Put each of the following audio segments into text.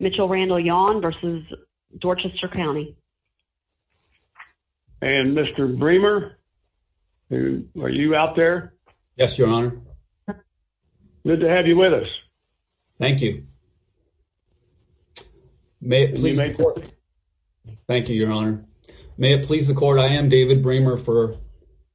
Mitchel Randall Yawn v. Dorchester County And Mr. Bremer, are you out there? Yes, your honor. Good to have you with us. Thank you. May it please the court. Thank you, your honor. May it please the court, I am David Bremer for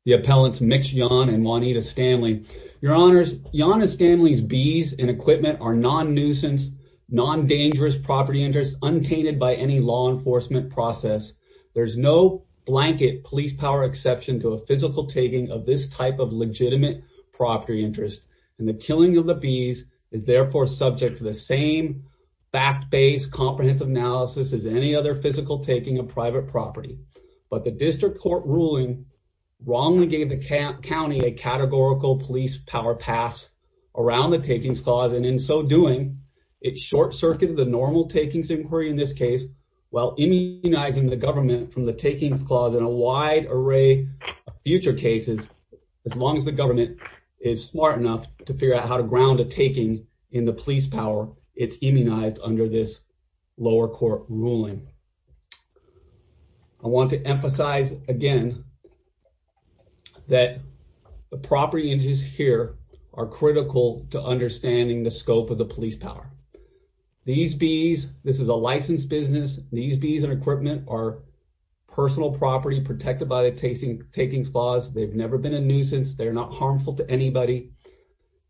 the appellants Mitch Yawn and Juanita Stanley. Your honors, Yawn and Stanley's bees and equipment are non-nuisance, non-dangerous property interests untainted by any law enforcement process. There's no blanket police power exception to a physical taking of this type of legitimate property interest and the killing of the bees is therefore subject to the same fact-based comprehensive analysis as any other physical taking of private property. But the district court ruling wrongly gave the county a categorical police power pass around the takings clause and in so doing, it short-circuited the normal takings inquiry in this case while immunizing the government from the takings clause in a wide array of future cases. As long as the government is smart enough to figure out how to ground a taking in the police power, it's immunized under this lower court ruling. I want to emphasize again that the property interests here are critical to understanding the scope of the police power. These bees, this is a licensed business, these bees and equipment are personal property protected by the takings clause, they've never been a nuisance, they're not harmful to anybody,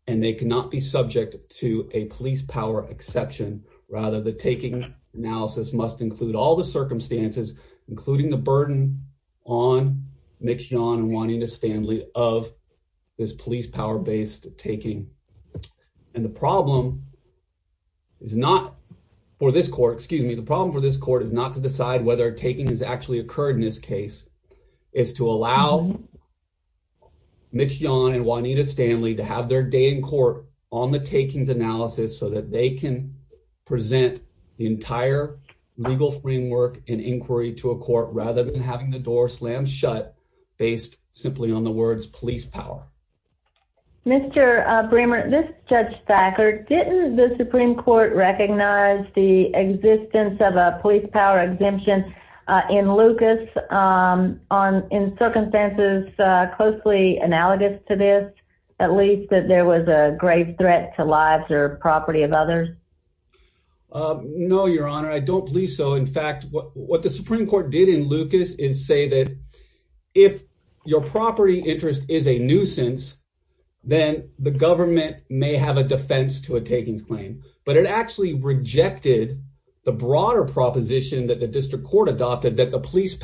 and they cannot be subject to a police power exception. Rather, the taking analysis must include all the circumstances, including the burden on Mitch John and Juanita Stanley of this police power-based taking. And the problem for this court is not to decide whether a taking has actually occurred in this case, it's to allow Mitch John and Juanita Stanley to have their day in court on the takings analysis so that they can present the entire legal framework and inquiry to a court, rather than having the door slam shut based simply on the words police power. Mr. Bremer, this is Judge Thacker. Didn't the Supreme Court recognize the existence of a police power exemption in Lucas in circumstances closely analogous to this, at least that there was a grave threat to lives or property of others? No, Your Honor, I don't believe so. In fact, what the Supreme Court did in Lucas is say that if your property interest is a nuisance, then the government may have a defense to a takings claim, but it actually rejected the broader proposition that the district court adopted that the police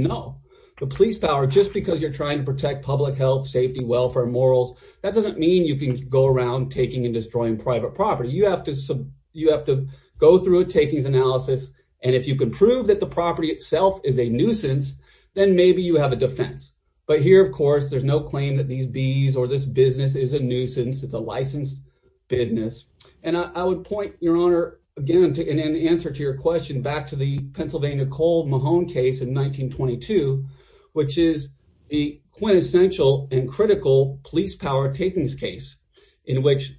no. The police power, just because you're trying to protect public health, safety, welfare, morals, that doesn't mean you can go around taking and destroying private property. You have to go through a takings analysis, and if you can prove that the property itself is a nuisance, then maybe you have a defense. But here, of course, there's no claim that these bees or this business is a nuisance. It's a licensed business. And I would point, Your Honor, again, in answer to your question, back to the Pennsylvania coal Mahone case in 1922, which is the quintessential and critical police power takings case, in which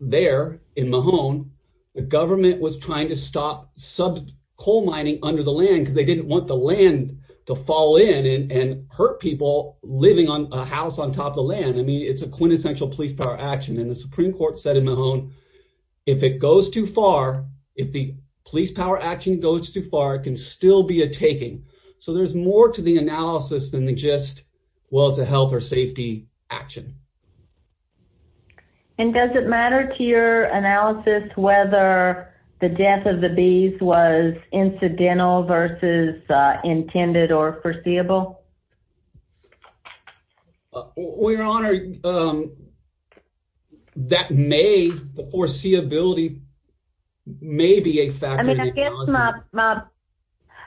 there in Mahone, the government was trying to stop coal mining under the land because they didn't want the land to fall in and hurt people living on a house on top of land. I mean, it's a quintessential police power action, and the Supreme Court said in Mahone, if it goes too far, if the police power action goes too far, it can still be a taking. So there's more to the analysis than just, well, it's a health or safety action. And does it matter to your analysis whether the death of the bees was incidental versus intended or foreseeable? Well, Your Honor, that may, the foreseeability may be a factor in the analysis. I mean,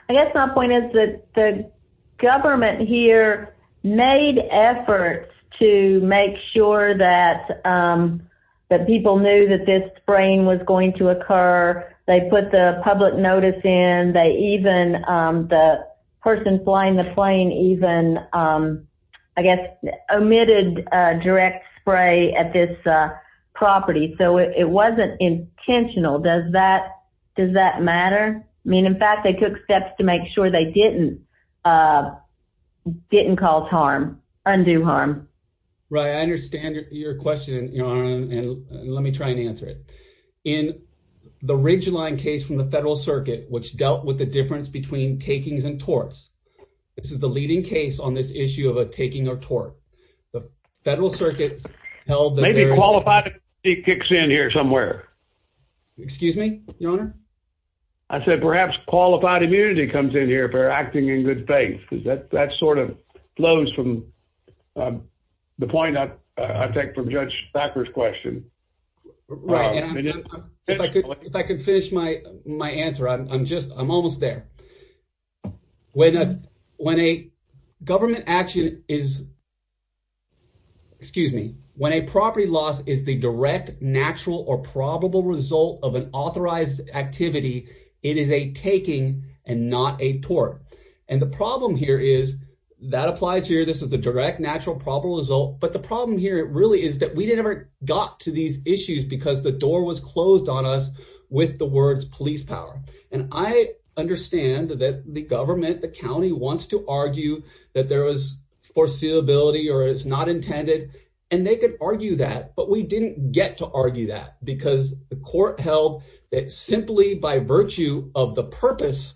I guess my point is that the government here made efforts to make sure that people knew that this spraying was going to occur. They put the public notice in. They even, the person flying the plane even, I guess, omitted direct spray at this property. So it wasn't intentional. Does that matter? I mean, in fact, they took steps to make sure they didn't cause harm, undue harm. Right. I understand your question, Your Honor, and let me try and answer it. In the Ridgeline case from the Federal Circuit, which dealt with the difference between takings and torts, this is the leading case on this issue of a taking or tort. The Federal Circuit held that Maybe qualified immunity kicks in here somewhere. Excuse me, Your Honor? I said perhaps qualified immunity comes in here for acting in good faith. That sort of flows from the point I take from Judge Thacker's question. Right. And if I could finish my answer, I'm almost there. When a government action is, excuse me, when a property loss is the direct, natural, or probable result of an authorized activity, it is a taking and not a tort. And the problem here is that applies here. This is a direct, natural, probable result. But the problem here really is that we never got to these issues because the door was closed on us with the words police power. And I meant the county wants to argue that there was foreseeability or it's not intended. And they could argue that, but we didn't get to argue that because the court held that simply by virtue of the purpose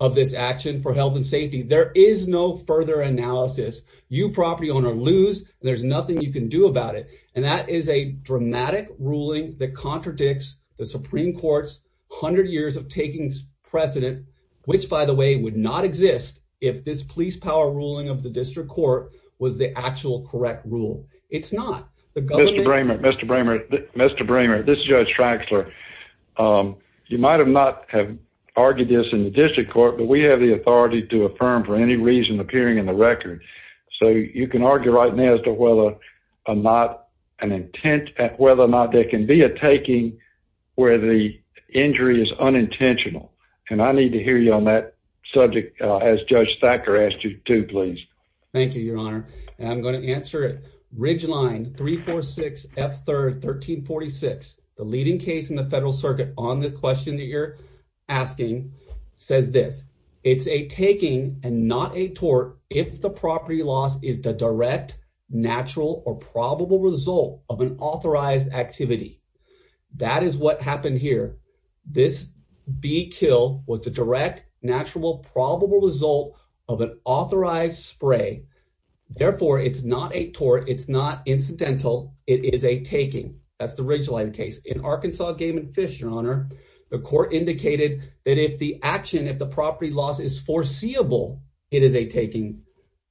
of this action for health and safety, there is no further analysis. You property owner lose. There's nothing you can do about it. And that is a dramatic ruling that contradicts the if this police power ruling of the district court was the actual correct rule. It's not the government. Mr. Bramer, Mr. Bramer, Mr. Bramer, this is Judge Traxler. You might have not have argued this in the district court, but we have the authority to affirm for any reason appearing in the record. So you can argue right now as to whether not an intent at whether or not there can be a taking where the injury is unintentional. And I need to hear you on that subject as Judge Thacker asked you to please. Thank you, Your Honor. I'm going to answer it. Ridgeline 346 F 3rd 1346. The leading case in the federal circuit on the question that you're asking says this. It's a taking and not a tort. If the property loss is the direct, natural or probable result of an authorized activity. That is what happened here. This be kill with the direct natural probable result of an authorized spray. Therefore, it's not a tort. It's not incidental. It is a taking. That's the ridgeline case in Arkansas game and fish. Your Honor, the court indicated that if the action of the property loss is foreseeable, it is a taking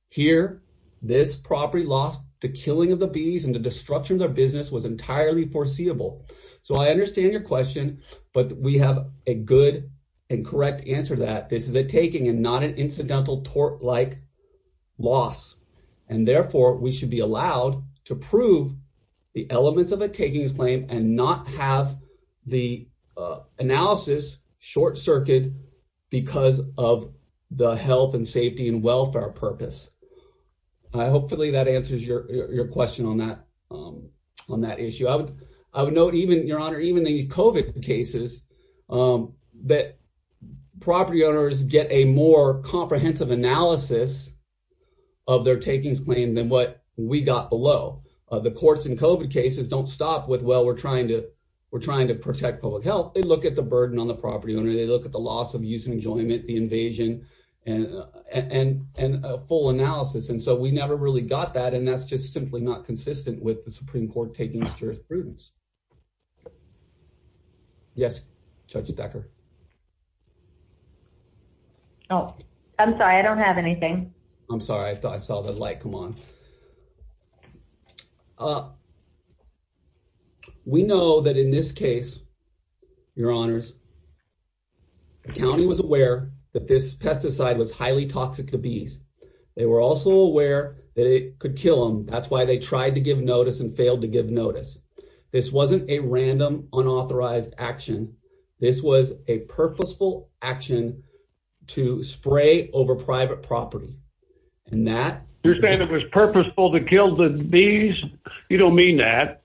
here. This property lost the killing of the bees and the structure of their business was entirely foreseeable. So I understand your question, but we have a good and correct answer that this is a taking and not an incidental tort like loss. And therefore, we should be allowed to prove the elements of a takings claim and not have the analysis short circuit because of the health and safety and welfare purpose. I hope that answers your question on that issue. I would note even the COVID cases that property owners get a more comprehensive analysis of their takings claim than what we got below. The courts in COVID cases don't stop with well, we're trying to protect public health. They look at the burden on the property owner. They look at the loss of use and enjoyment, the invasion and a full analysis. And so we never really got that. And that's just simply not consistent with the Supreme Court taking jurisprudence. Yes, Judge Decker. Oh, I'm sorry. I don't have anything. I'm sorry. I thought I saw the light come on. Oh, we know that in this case, your honors, the county was aware that this pesticide was highly toxic to bees. They were also aware that it could kill them. That's why they tried to give notice and failed to give notice. This wasn't a random unauthorized action. This was a purposeful action to spray over private property. And that- Bees? You don't mean that.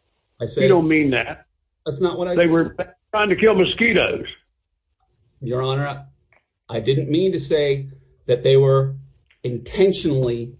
You don't mean that. They were trying to kill mosquitoes. Your honor, I didn't mean to say that they were intentionally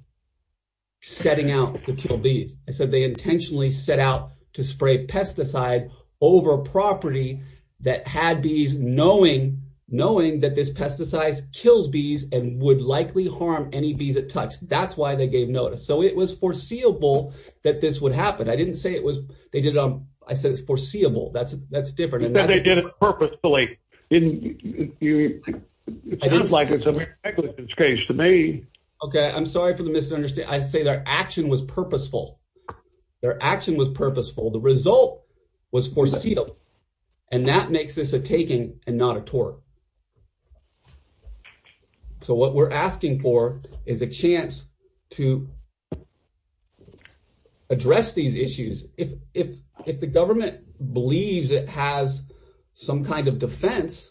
setting out to kill bees. I said they intentionally set out to spray pesticide over property that had bees knowing that this pesticide kills bees and would likely harm any bees it touched. That's why they gave notice. So it was foreseeable that this would happen. I didn't say it was- they did it on- I said it's foreseeable. That's different. They did it purposefully. It sounds like it's a negligence case to me. Okay. I'm sorry for the misunderstanding. I say their action was purposeful. Their action was purposeful. The result was foreseeable. And that makes this a taking and not a tort. So what we're asking for is a chance to address these issues. If the government believes it has some kind of defense,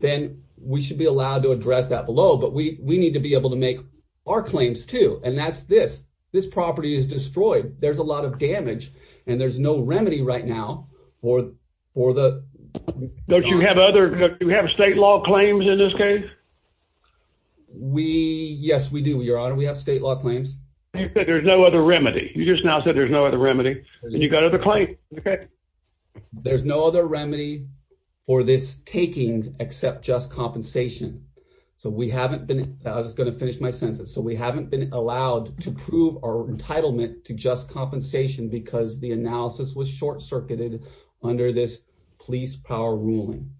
then we should be allowed to address that below. But we need to be able to make our claims too. And that's this. This property is destroyed. There's a lot of damage. And there's no remedy right now for the- Don't you have other- do you have state law claims in this case? We- yes we do, your honor. We have state law claims. You said there's no other remedy. You just now said there's no other remedy. And you got other claims. Okay. There's no other remedy for this taking except just compensation. So we haven't been- I was going to finish my sentence. So we haven't been allowed to prove our entitlement to just compensation because the analysis was short circuited under this police power ruling.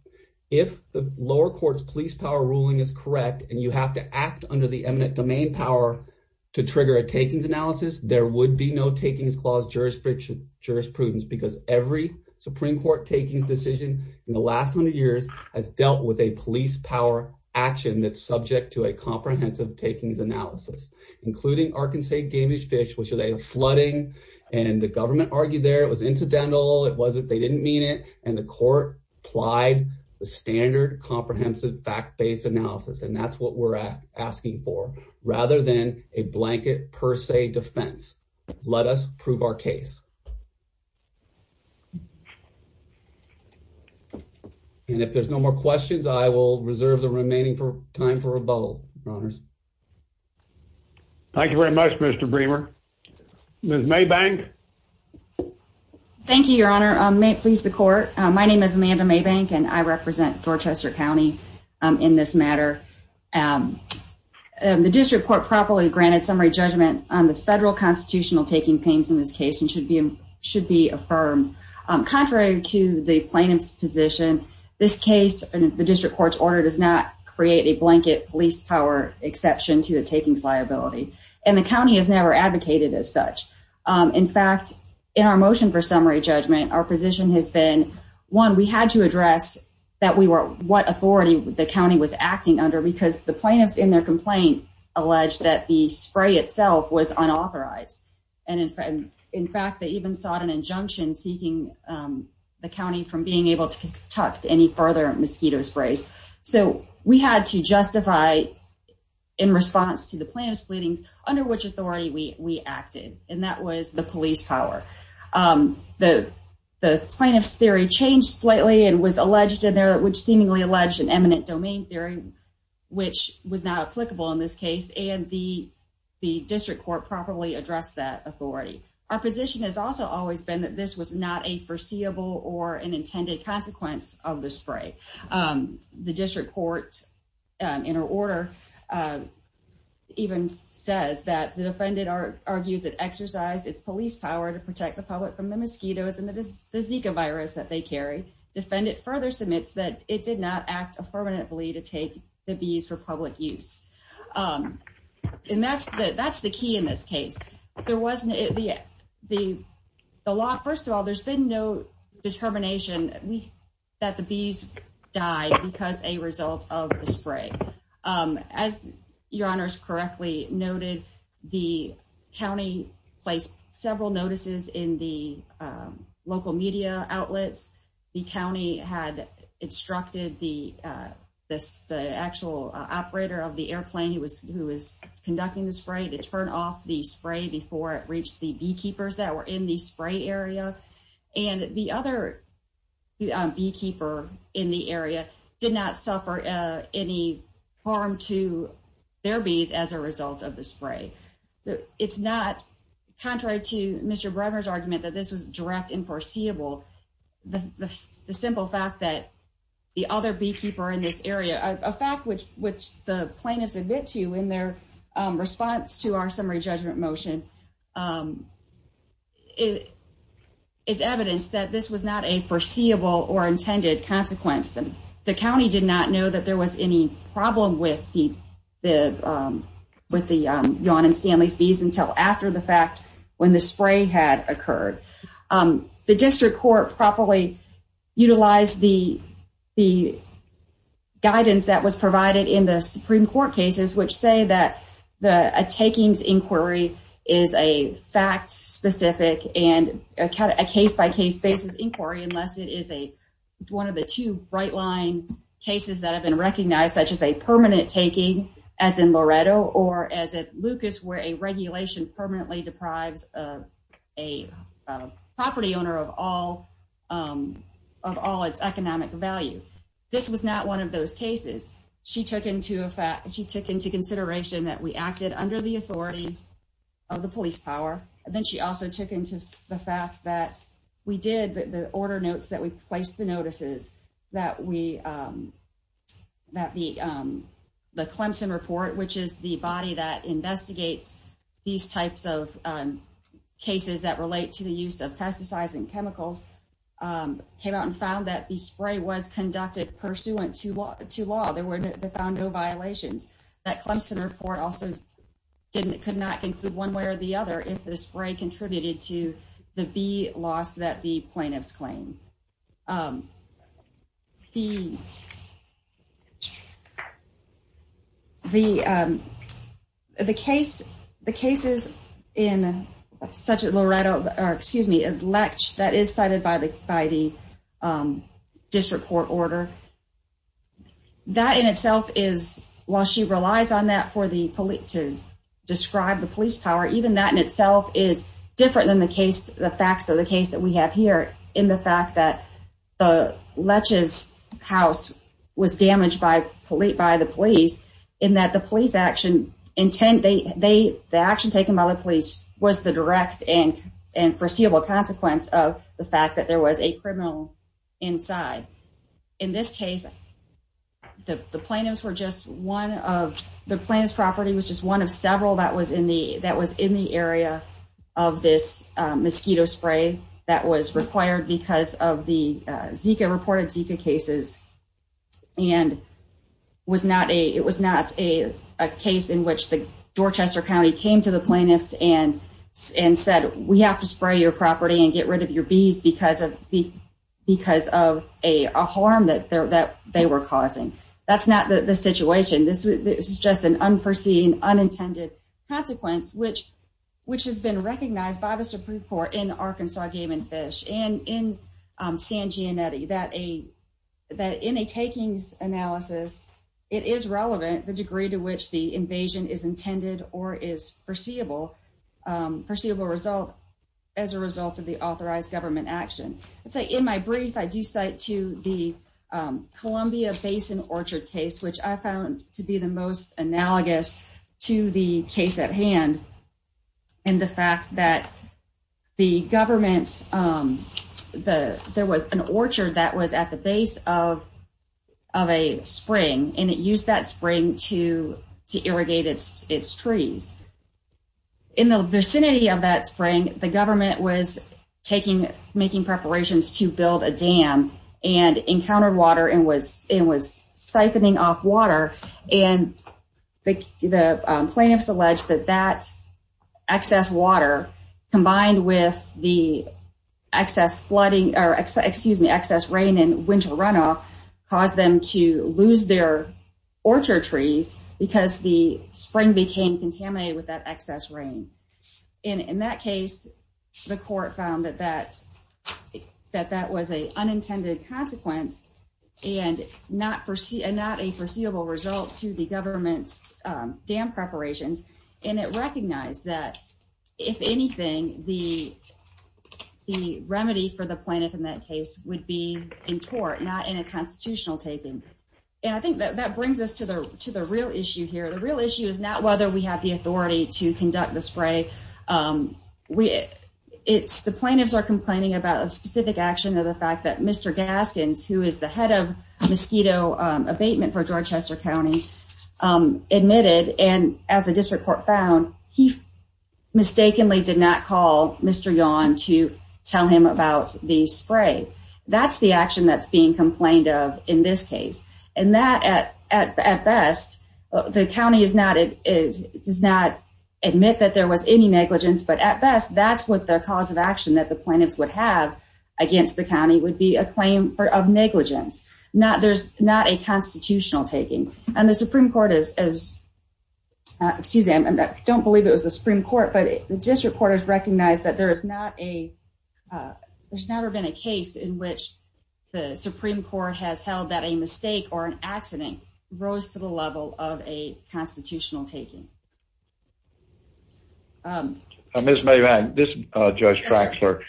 If the lower court's police power ruling is correct and you have to act under the eminent domain power to trigger a takings analysis, there would be no takings clause jurisprudence because every Supreme Court takings decision in the last 100 years has dealt with a police power action that's subject to a comprehensive takings analysis, including Arkansas Damage Fish, which is a and the government argued there. It was incidental. It wasn't- they didn't mean it. And the court applied the standard comprehensive fact-based analysis. And that's what we're asking for, rather than a blanket per se defense. Let us prove our case. And if there's no more questions, I will reserve the remaining time for rebuttal, your honors. Thank you very much, Mr. Bremer. Ms. Maybank. Thank you, your honor. May it please the court. My name is Amanda Maybank and I represent Dorchester County in this matter. The district court properly granted summary judgment on the federal constitutional taking pains in this case and should be should be affirmed. Contrary to the plaintiff's position, this case and the district court's order does not create a blanket police power exception to the takings liability. And the county has never advocated as such. In fact, in our motion for summary judgment, our position has been, one, we had to address that we were- what authority the county was acting under because the plaintiffs in their complaint alleged that the spray itself was unauthorized. And in fact, they even sought an injunction seeking the county from being able to conduct any further mosquito sprays. So we had to justify in response to the plaintiff's pleadings under which authority we acted. And that was the police power. The plaintiff's theory changed slightly and was alleged in there, which seemingly alleged an eminent domain theory, which was not applicable in this case. And the district court properly addressed that authority. Our position has also always been that this was not a foreseeable or an intended consequence of the spray. The district court, in her order, even says that the defendant argues it exercised its police power to protect the public from the mosquitoes and the Zika virus that they carry. Defendant further submits that it did not act affirmatively to take the bees for There wasn't- the law, first of all, there's been no determination that the bees died because a result of the spray. As your honors correctly noted, the county placed several notices in the local media outlets. The county had instructed the actual operator of the airplane who was conducting the spray to turn off the spray before it reached the beekeepers that were in the spray area. And the other beekeeper in the area did not suffer any harm to their bees as a result of the spray. So it's not contrary to Mr. Brevner's argument that this was direct and foreseeable. The simple fact that the other beekeeper in this area, a fact which the plaintiffs admit to in response to our summary judgment motion, is evidence that this was not a foreseeable or intended consequence. The county did not know that there was any problem with the Yon and Stanley's bees until after the fact when the spray had occurred. The district court properly utilized the guidance that was provided in the Supreme Court cases which say that the takings inquiry is a fact-specific and a case-by-case basis inquiry unless it is a one of the two bright line cases that have been recognized such as a permanent taking as in Loretto or as in Lucas where a regulation permanently deprives a property owner of all of all its economic value. This was not one of those cases. She took into consideration that we acted under the authority of the police power. Then she also took into the fact that we did the order notes that we placed the notices that the Clemson report, which is the body that came out and found that the spray was conducted pursuant to law. They found no violations. That Clemson report also could not conclude one way or the other if the spray contributed to the bee loss that the plaintiffs claim. The cases in such as Loretto, or excuse me, Letch, that is cited by the district court order. That in itself is, while she relies on that for the police to describe the police power, even that in itself is different than the facts of the case that we have here in the fact that Letch's house was damaged by the police in that police action. The action taken by the police was the direct and foreseeable consequence of the fact that there was a criminal inside. In this case, the plaintiff's property was just one of several that was in the area of this mosquito spray that was required because of the Zika cases. It was not a case in which the Dorchester County came to the plaintiffs and said, we have to spray your property and get rid of your bees because of a harm that they were causing. That's not the situation. This is just an unforeseen, unintended consequence, which has been recognized by the Supreme Court in Arkansas Game and Fish and in San Giannetti that in a takings analysis, it is relevant the degree to which the invasion is intended or is foreseeable result as a result of the authorized government action. In my brief, I do cite to the Columbia Basin Orchard case, which I found to be the most analogous to the case at hand and the fact that the government, there was an orchard that was at the base of a spring and it used that spring to irrigate its trees. In the vicinity of that spring, the government was making preparations to build a dam and encountered water and was siphoning off and the plaintiffs alleged that that excess water combined with the excess flooding, or excuse me, excess rain and winter runoff caused them to lose their orchard trees because the spring became contaminated with that excess rain. In that case, the court found that that was an unintended consequence and not a foreseeable result to the government's dam preparations and it recognized that if anything, the remedy for the plaintiff in that case would be in court, not in a constitutional taking. I think that brings us to the real issue here. The real issue is not whether we have the authority to conduct the spray. The plaintiffs are complaining about a specific action of the fact that Mr. Gaskins, who is the head of mosquito abatement for Georgetown County, admitted and as the district court found, he mistakenly did not call Mr. Yawn to tell him about the spray. That's the action that's being complained of in this case. At best, the county does not admit that there was any negligence, but at best, that's what the cause of action that the plaintiffs would have against the county would be a claim of negligence. There's not a constitutional taking. I don't believe it was the Supreme Court, but the district court has recognized that there's never been a case in which the Supreme Court has held that a mistake or an accident rose to the level of a constitutional taking. Ms. Maybank, this is Judge Traxler.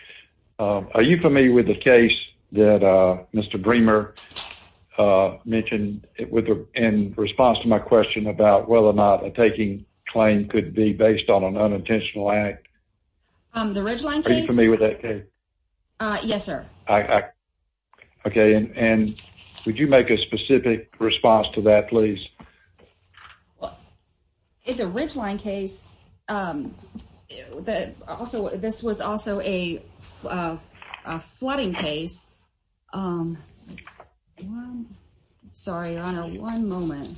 Are you familiar with the case that Mr. Bremer mentioned in response to my question about whether or not a taking claim could be based on an unintentional act? The Ridgeline case? Are you familiar with that case? Yes, sir. Okay, and would you make a specific response to that please? In the Ridgeline case, this was also a flooding case. Sorry, Your Honor, one moment.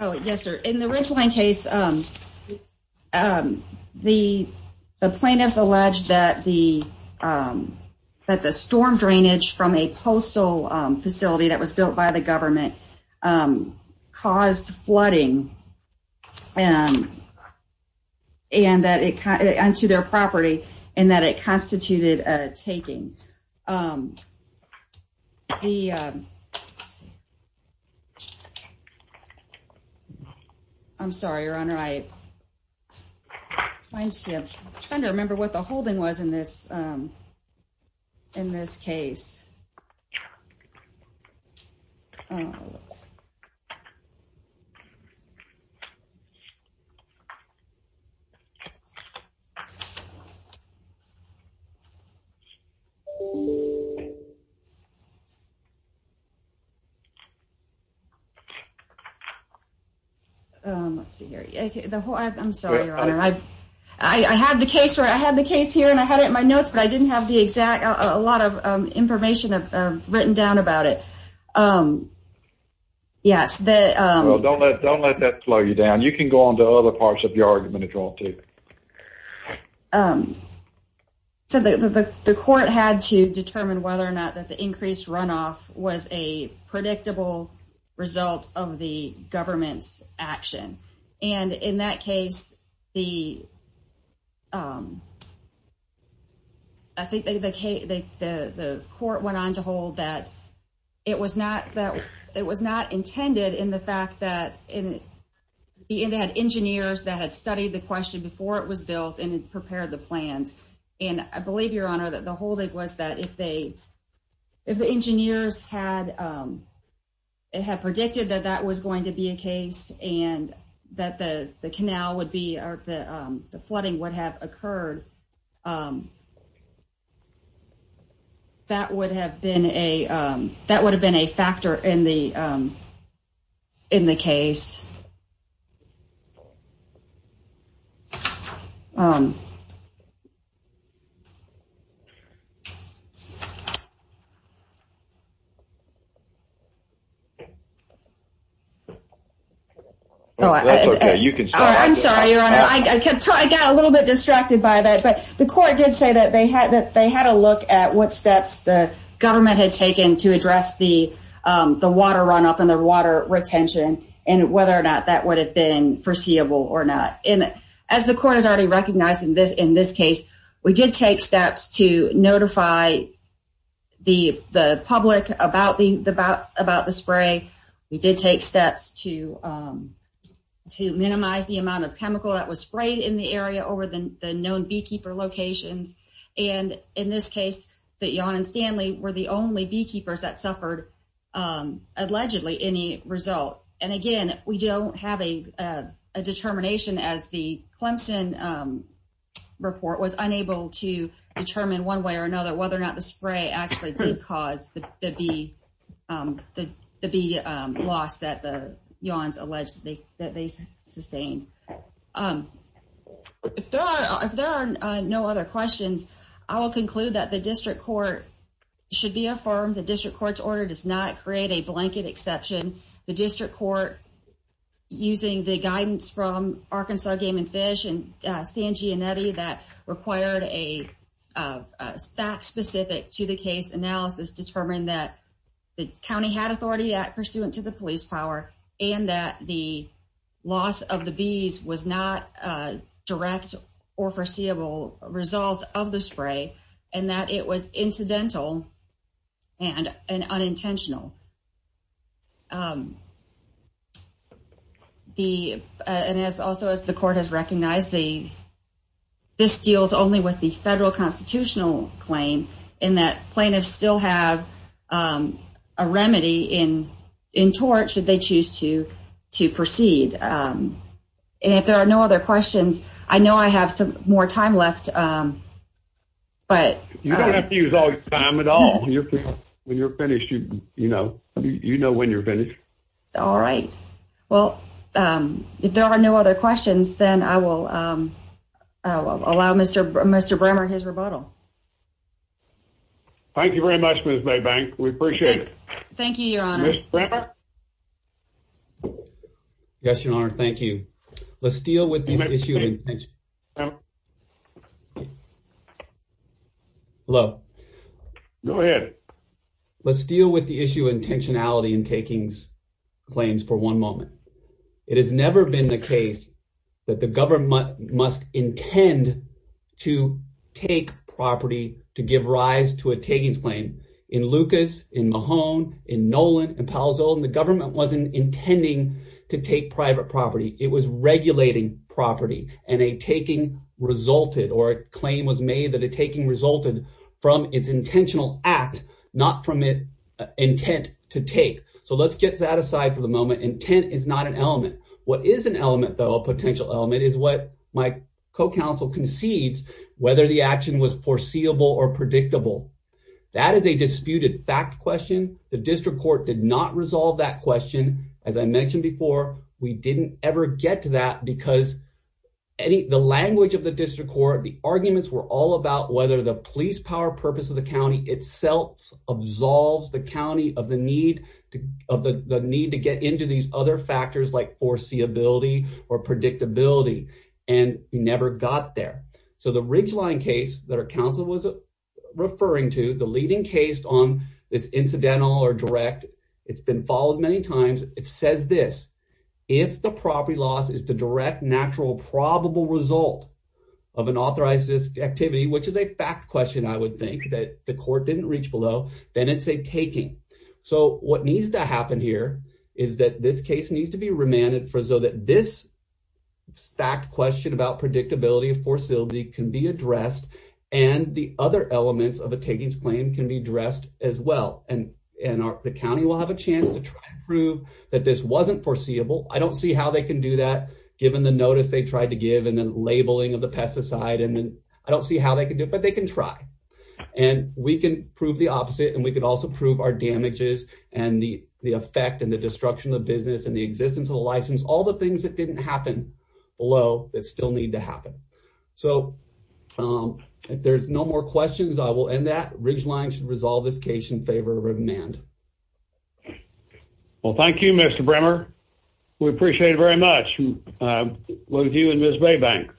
Oh, yes, sir. In the Ridgeline case, the plaintiffs alleged that the storm drainage from a postal facility that was built by the government caused flooding onto their property and that it constituted a taking. I'm sorry, Your Honor. I'm trying to remember what the holding was in this case. Oh, let's see here. I'm sorry, Your Honor. I had the case here and I had it in my notes, but I didn't have a lot of information written down about it. Yes. Don't let that slow you down. You can go on to other parts of your argument as well, too. The court had to determine whether or not the increased runoff was a predictable result of the flooding. I think the court went on to hold that it was not intended in the fact that they had engineers that had studied the question before it was built and prepared the plans. I believe, Your Honor, that the holding was that if the engineers had predicted that that was going to be a case and that the flooding would have occurred, that would have been a factor in the case. I'm sorry, Your Honor. I got a little bit distracted by that, but the court did say that they had a look at what steps the government had taken to address the water runoff and the water retention and whether or not that would have been foreseeable or not. As the court has already recognized in this case, we did take steps to notify the public about the spray. We did take steps to minimize the amount of chemical that was sprayed in the area over the known beekeeper locations. In this case, Jan and Stanley were the only beekeepers that suffered allegedly any result. Again, we don't have a determination as the Clemson report was unable to determine one way or another whether or not the spray actually did cause the bee loss that Jan allegedly sustained. If there are no other questions, I will conclude that the district court should be affirmed that the district court's order does not create a blanket exception. The district court, using the guidance from Arkansas Game and Fish and the county had authority pursuant to the police power and that the loss of the bees was not a direct or foreseeable result of the spray and that it was incidental and unintentional. Also, as the court has recognized, this deals only with the federal constitutional claim and that plaintiffs still have a remedy in tort should they choose to proceed. If there are no other questions, I know I have some more time left. But you don't have to use all your time at all. When you're finished, you know when you're finished. All right. Well, if there are no other questions, then I will allow Mr. Brammer his time. Thank you very much, Ms. Maybank. We appreciate it. Thank you, Your Honor. Mr. Brammer? Yes, Your Honor. Thank you. Let's deal with this issue. Hello? Go ahead. Let's deal with the issue of intentionality in taking claims for one moment. It has never been the case that the government must intend to take property to give rise to a taking claim. In Lucas, in Mahone, in Nolan, in Palo Zolo, the government wasn't intending to take private property. It was regulating property, and a taking resulted or a claim was made that a taking resulted from its intentional act, not from intent to take. So let's get that aside for the moment. Intent is not an element. What is an element, though, a potential element, is what my co-counsel concedes, whether the action was foreseeable or predictable. That is a disputed fact question. The district court did not resolve that question. As I mentioned before, we didn't ever get to that because the language of the district court, the arguments were all about whether the police power purpose of the county itself absolves the county of the need to get into these other factors like foreseeability or predictability, and we never got there. So the Ridgeline case that our counsel was referring to, the leading case on this incidental or direct, it's been followed many times, it says this. If the property loss is the direct natural probable result of an authorized activity, which is a fact question I would think that the court didn't reach below, then it's a taking. So what needs to happen here is that this case needs to be remanded so that this fact question about predictability and foreseeability can be addressed and the other elements of a takings claim can be addressed as well, and the county will have a chance to try and prove that this wasn't foreseeable. I don't see how they can do that given the notice they tried to give and the labeling of the but they can try. And we can prove the opposite and we can also prove our damages and the effect and the destruction of business and the existence of the license, all the things that didn't happen below that still need to happen. So if there's no more questions, I will end that. Ridgeline should resolve this case in favor of remand. Well, thank you, Mr. Bremer. We appreciate it very much. With you and Ms. Maybank.